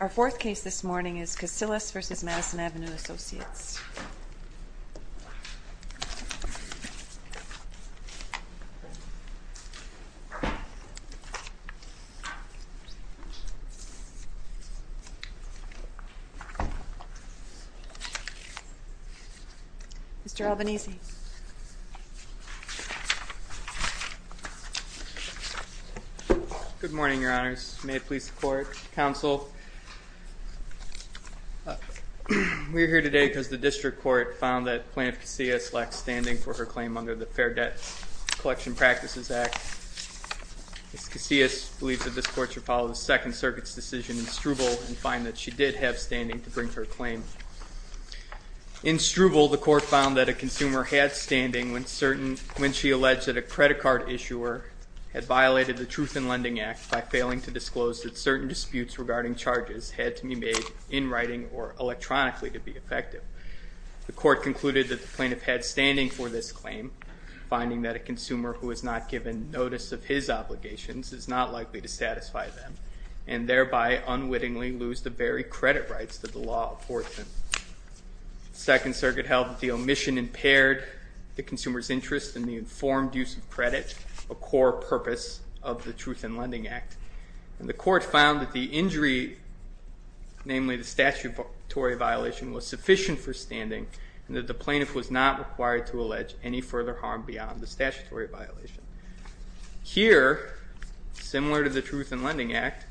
Our fourth case this morning is Casillas v. Madison Avenue Associates. Mr. Albanese. Good morning, Your Honors. May it please the Court, Counsel. We are here today because the District Court found that Plaintiff Casillas lacked standing for her claim under the Fair Debt Collection Practices Act. Ms. Casillas believes that this Court should follow the Second Circuit's decision in Struble and find that she did have standing to bring her claim. In Struble, the Court found that a consumer had standing when she alleged that a credit card issuer had violated the Truth in Lending Act by failing to disclose that certain disputes regarding charges had to be made in writing or electronically to be effective. The Court concluded that the plaintiff had standing for this claim, finding that a consumer who has not given notice of his obligations is not likely to satisfy them and thereby unwittingly lose the very credit rights that the law affords them. The Second Circuit held that the omission impaired the consumer's interest in the informed use of credit, a core purpose of the Truth in Lending Act. The Court found that the injury, namely the statutory violation, was sufficient for standing and that the plaintiff was not required to allege any further harm beyond the statutory violation. Here, similar to the Truth in Lending Act,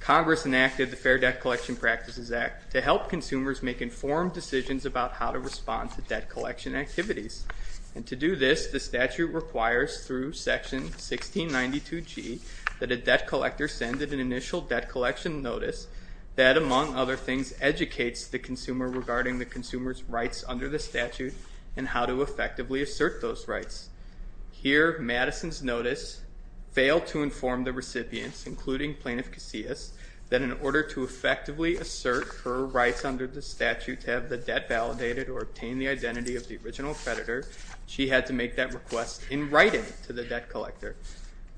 Congress enacted the Fair Debt Collection Practices Act to help consumers make informed decisions about how to respond to debt collection activities. And to do this, the statute requires through Section 1692G that a debt collector send an initial debt collection notice that, among other things, educates the consumer regarding the consumer's rights under the statute and how to effectively assert those rights. Here, Madison's notice failed to inform the recipients, including Plaintiff Casillas, that in order to effectively assert her rights under the statute to have the debt validated or obtain the identity of the original creditor, she had to make that request in writing to the debt collector.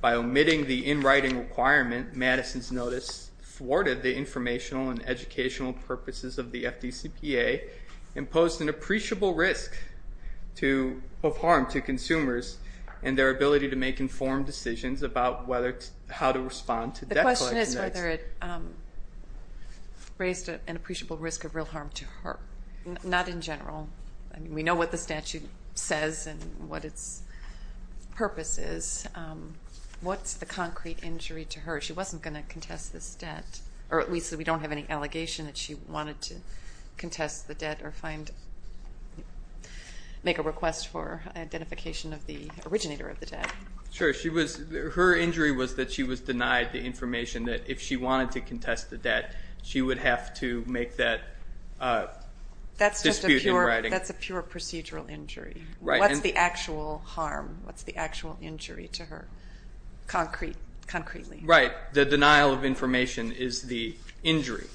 By omitting the in-writing requirement, Madison's notice thwarted the informational and educational purposes of the FDCPA and posed an appreciable risk of harm to consumers and their ability to make informed decisions about how to respond to debt collection. The question is whether it raised an appreciable risk of real harm to her. Not in general. We know what the statute says and what its purpose is. What's the concrete injury to her? She wasn't going to contest this debt, or at least we don't have any allegation that she wanted to contest the debt or make a request for identification of the originator of the debt. Sure. Her injury was that she was denied the information that if she wanted to contest the debt, she would have to make that dispute in writing. That's a pure procedural injury. What's the actual harm? What's the actual injury to her concretely? Right. The denial of information is the injury,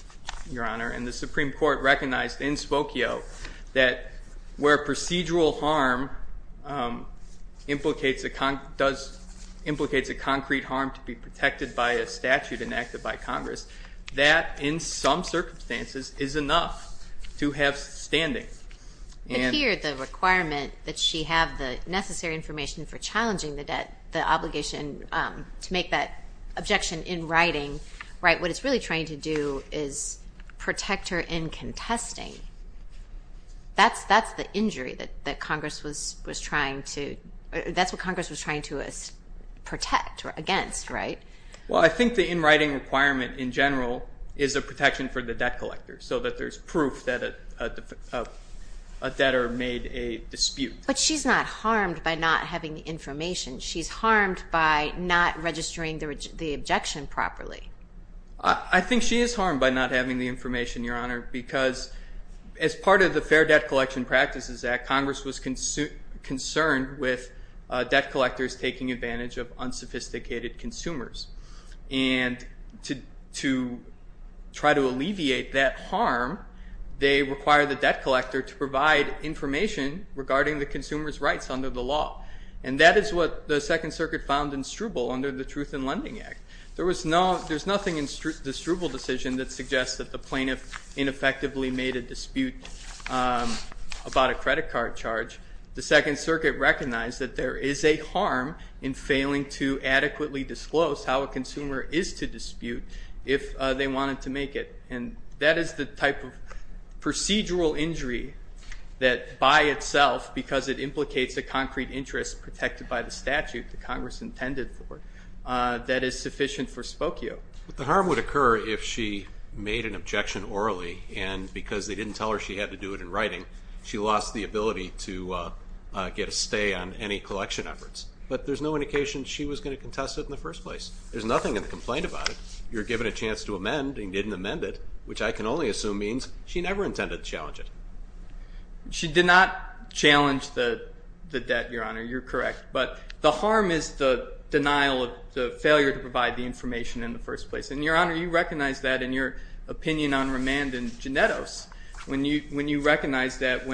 Your Honor, and the Supreme Court recognized in Spokio that where procedural harm implicates a concrete harm to be protected by a statute enacted by Congress, that in some circumstances is enough to have standing. But here the requirement that she have the necessary information for challenging the debt, the obligation to make that objection in writing, right, what it's really trying to do is protect her in contesting. That's the injury that Congress was trying to protect against, right? Well, I think the in writing requirement in general is a protection for the debt collector so that there's proof that a debtor made a dispute. But she's not harmed by not having the information. She's harmed by not registering the objection properly. I think she is harmed by not having the information, Your Honor, because as part of the Fair Debt Collection Practices Act, Congress was concerned with debt collectors taking advantage of unsophisticated consumers. And to try to alleviate that harm, they require the debt collector to provide information regarding the consumer's rights under the law. And that is what the Second Circuit found in Struble under the Truth in Lending Act. There's nothing in the Struble decision that suggests that the plaintiff ineffectively made a dispute about a credit card charge. The Second Circuit recognized that there is a harm in failing to adequately disclose how a consumer is to dispute if they wanted to make it. And that is the type of procedural injury that by itself, because it implicates a concrete interest protected by the statute that Congress intended for, that is sufficient for spokio. But the harm would occur if she made an objection orally, and because they didn't tell her she had to do it in writing, she lost the ability to get a stay on any collection efforts. But there's no indication she was going to contest it in the first place. There's nothing in the complaint about it. You're given a chance to amend and you didn't amend it, which I can only assume means she never intended to challenge it. She did not challenge the debt, Your Honor. You're correct. But the harm is the denial of the failure to provide the information in the first place. And, Your Honor, you recognize that in your opinion on remand and genetos, when you recognize that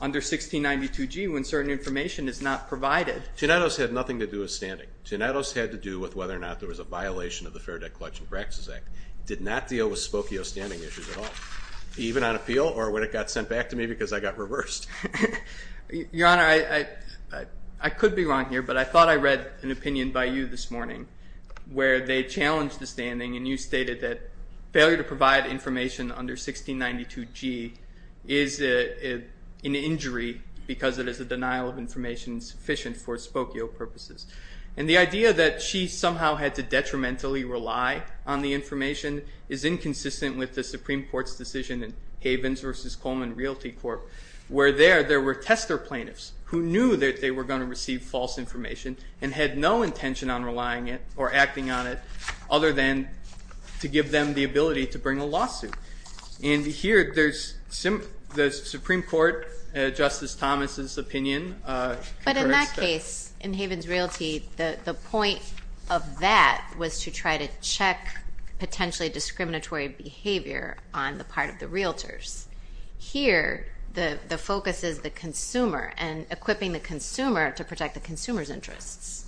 under 1692G when certain information is not provided. Genetos had nothing to do with standing. Genetos had to do with whether or not there was a violation of the Fair Debt Collection Practices Act. It did not deal with spokio standing issues at all, even on appeal or when it got sent back to me because I got reversed. Your Honor, I could be wrong here, but I thought I read an opinion by you this morning where they challenged the standing and you stated that failure to provide information under 1692G is an injury because it is a denial of information sufficient for spokio purposes. And the idea that she somehow had to detrimentally rely on the information is inconsistent with the Supreme Court's decision in Havens v. Coleman Realty Court where there were tester plaintiffs who knew that they were going to receive false information and had no intention on relying it or acting on it other than to give them the ability to bring a lawsuit. And here the Supreme Court, Justice Thomas' opinion. But in that case, in Havens Realty, the point of that was to try to check potentially discriminatory behavior on the part of the realtors. Here the focus is the consumer and equipping the consumer to protect the consumer's interests.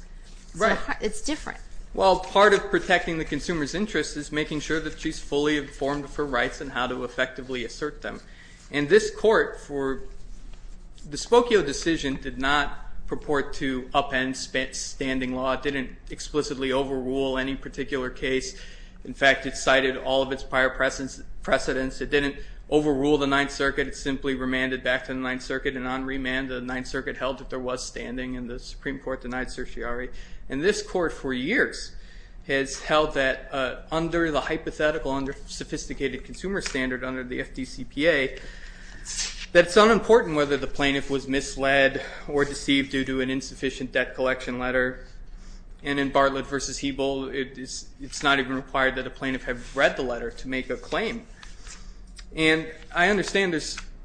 Right. It's different. Well, part of protecting the consumer's interests is making sure that she's fully informed of her rights and how to effectively assert them. And this court for the Spokio decision did not purport to upend standing law. It didn't explicitly overrule any particular case. In fact, it cited all of its prior precedents. It didn't overrule the Ninth Circuit. It simply remanded back to the Ninth Circuit. And on remand, the Ninth Circuit held that there was standing and the Supreme Court denied certiorari. And this court for years has held that under the hypothetical, under sophisticated consumer standard, under the FDCPA, that it's unimportant whether the plaintiff was misled or deceived due to an insufficient debt collection letter. And in Bartlett v. Hebel, it's not even required that a plaintiff have read the letter to make a claim. And I understand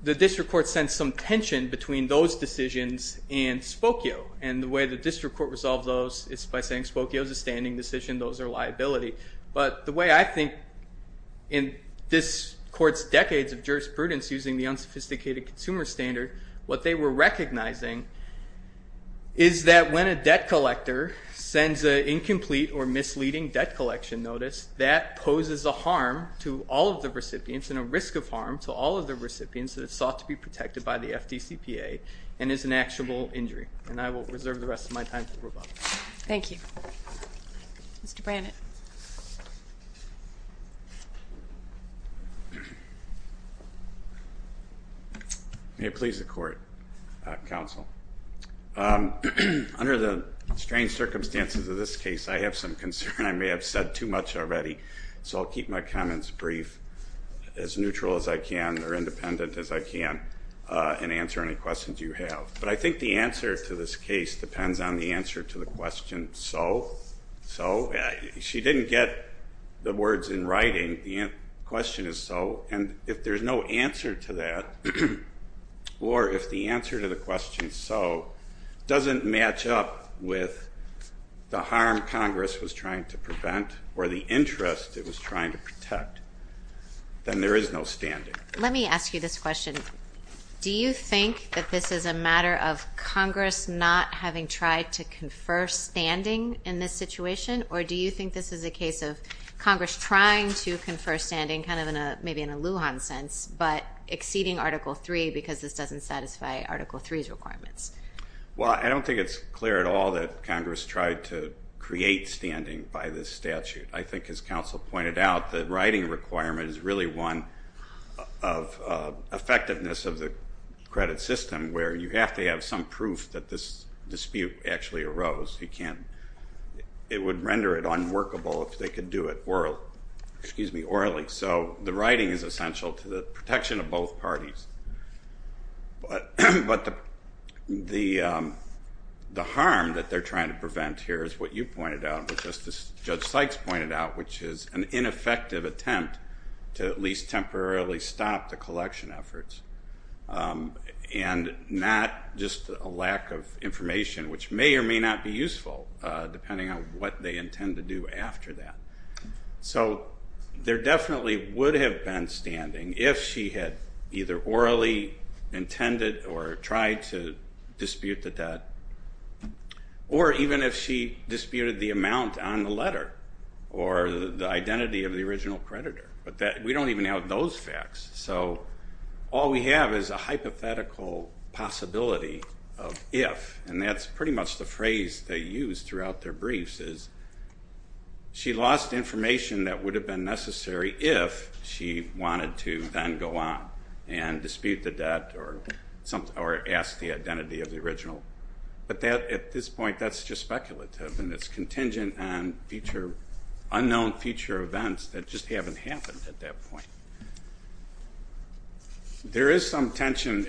the district court sent some tension between those decisions and Spokio. And the way the district court resolved those is by saying Spokio is a standing decision. Those are liability. But the way I think in this court's decades of jurisprudence using the unsophisticated consumer standard, what they were recognizing is that when a debt collector sends an incomplete or misleading debt collection notice, that poses a harm to all of the recipients and a risk of harm to all of the recipients that have sought to be protected by the FDCPA and is an actual injury. And I will reserve the rest of my time for rebuttal. Thank you. Mr. Brannett. May it please the court, counsel. Under the strange circumstances of this case, I have some concern I may have said too much already, so I'll keep my comments brief, as neutral as I can or independent as I can, and answer any questions you have. But I think the answer to this case depends on the answer to the question, so? So? She didn't get the words in writing. The question is, so? And if there's no answer to that or if the answer to the question, so, doesn't match up with the harm Congress was trying to prevent or the interest it was trying to protect, then there is no standing. Let me ask you this question. Do you think that this is a matter of Congress not having tried to confer standing in this situation, or do you think this is a case of Congress trying to confer standing, kind of maybe in a Lujan sense, but exceeding Article III because this doesn't satisfy Article III's requirements? Well, I don't think it's clear at all that Congress tried to create standing by this statute. I think, as counsel pointed out, the writing requirement is really one of effectiveness of the credit system, where you have to have some proof that this dispute actually arose. It would render it unworkable if they could do it orally. So the writing is essential to the protection of both parties. But the harm that they're trying to prevent here is what you pointed out, what Judge Sykes pointed out, which is an ineffective attempt to at least temporarily stop the collection efforts and not just a lack of information, which may or may not be useful, depending on what they intend to do after that. So there definitely would have been standing if she had either orally intended or tried to dispute the debt, or even if she disputed the amount on the letter or the identity of the original creditor. But we don't even have those facts. So all we have is a hypothetical possibility of if, and that's pretty much the phrase they use throughout their briefs, is she lost information that would have been necessary if she wanted to then go on and dispute the debt or ask the identity of the original. But at this point, that's just speculative, and it's contingent on unknown future events that just haven't happened at that point. There is some tension.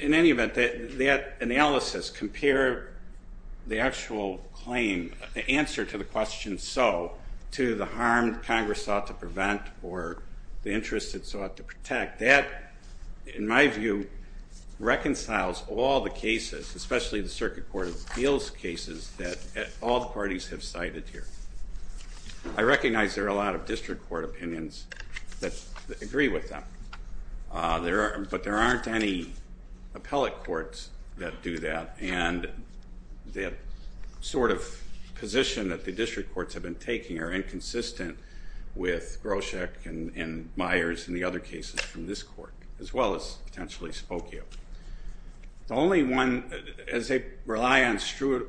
In any event, that analysis, compare the actual claim, the answer to the question, so to the harm Congress sought to prevent or the interest it sought to protect, that, in my view, reconciles all the cases, especially the Circuit Court of Appeals cases, that all the parties have cited here. I recognize there are a lot of district court opinions that agree with them, but there aren't any appellate courts that do that, and the sort of position that the district courts have been taking are inconsistent with Groshek and Myers and the other cases from this court, as well as potentially Spokio. The only one, as they rely on Strudel,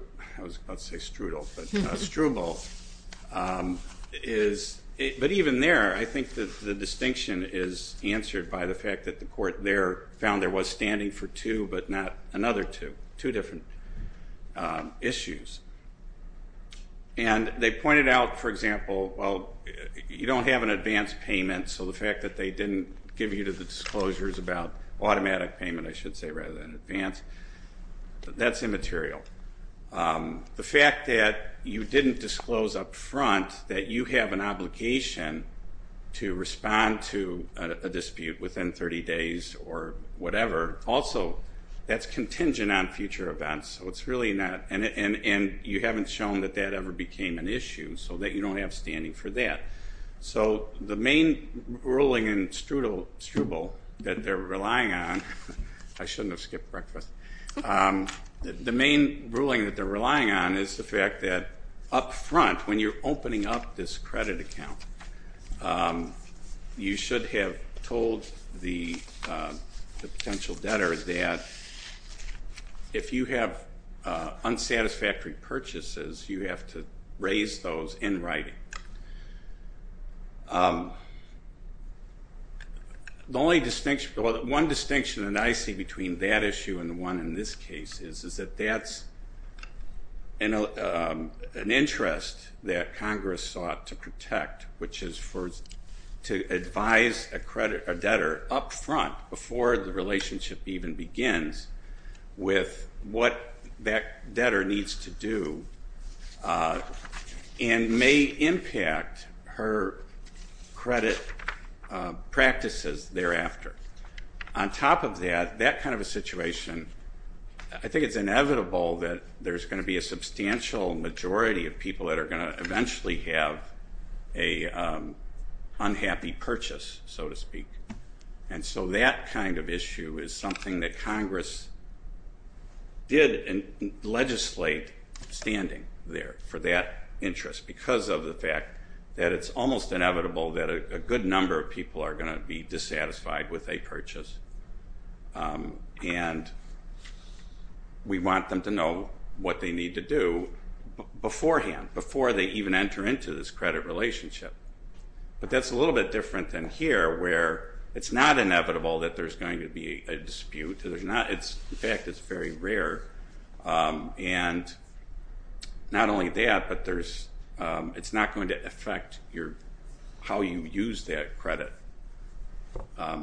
but even there, I think the distinction is answered by the fact that the court there found there was standing for two, but not another two, two different issues. And they pointed out, for example, well, you don't have an advance payment, so the fact that they didn't give you the disclosures about automatic payment, I should say, rather than advance, that's immaterial. The fact that you didn't disclose up front that you have an obligation to respond to a dispute within 30 days or whatever, also, that's contingent on future events, so it's really not, and you haven't shown that that ever became an issue, so that you don't have standing for that. So the main ruling in Strudel that they're relying on, I shouldn't have skipped breakfast, the main ruling that they're relying on is the fact that up front, when you're opening up this credit account, you should have told the potential debtor that if you have unsatisfactory purchases, you have to raise those in writing. The only distinction, well, one distinction that I see between that issue and the one in this case is that that's an interest that Congress sought to protect, which is to advise a debtor up front before the relationship even begins with what that debtor needs to do and may impact her credit practices thereafter. On top of that, that kind of a situation, I think it's inevitable that there's going to be a substantial majority of people that are going to eventually have an unhappy purchase, so to speak, and so that kind of issue is something that Congress did legislate standing there for that interest because of the fact that it's almost inevitable that a good number of people are going to be dissatisfied with a purchase, and we want them to know what they need to do beforehand, before they even enter into this credit relationship, but that's a little bit different than here where it's not inevitable that there's going to be a dispute. In fact, it's very rare, and not only that, but it's not going to affect how you use that credit.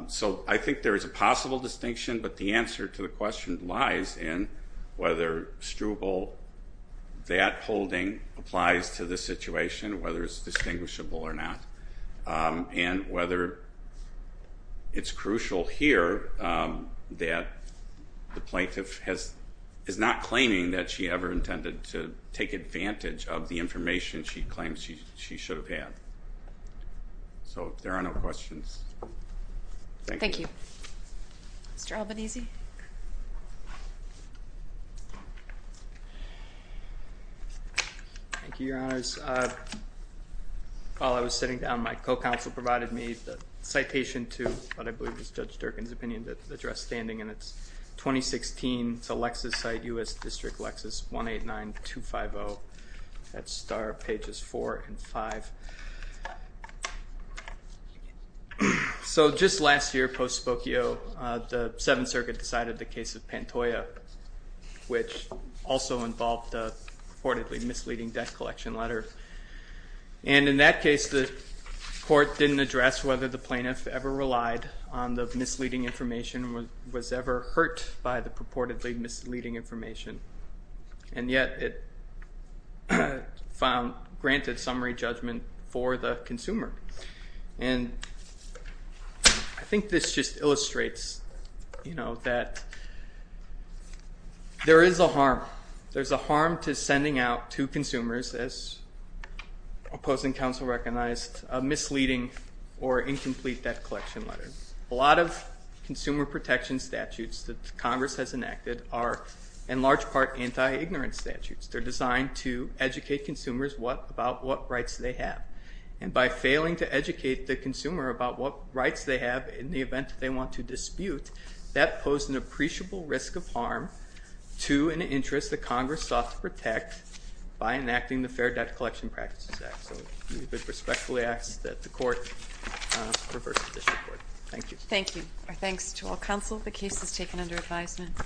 So I think there is a possible distinction, but the answer to the question lies in whether Struble, that holding applies to this situation, whether it's distinguishable or not, and whether it's crucial here that the plaintiff is not claiming that she ever intended to take advantage of the information she claims she should have had. So if there are no questions. Thank you. Thank you. Mr. Albanese. Thank you, Your Honors. While I was sitting down, my co-counsel provided me the citation to what I believe is Judge Durkin's opinion that addressed standing, and it's 2016. It's a Lexis site, U.S. District Lexis, 189250. That's star pages 4 and 5. So just last year, post-Spokio, the Seventh Circuit decided the case of Pantoja, which also involved a reportedly misleading debt collection letter, and in that case the court didn't address whether the plaintiff ever relied on the misleading information and was ever hurt by the purportedly misleading information, and yet it granted summary judgment for the consumer. And I think this just illustrates that there is a harm. There's a harm to sending out to consumers, as opposing counsel recognized, a misleading or incomplete debt collection letter. A lot of consumer protection statutes that Congress has enacted are in large part anti-ignorance statutes. They're designed to educate consumers about what rights they have, and by failing to educate the consumer about what rights they have in the event they want to dispute, that posed an appreciable risk of harm to an interest that Congress sought to protect by enacting the Fair Debt Collection Practices Act. So I respectfully ask that the court reverse this report. Thank you. Thank you. Our thanks to all counsel. The case is taken under advisement.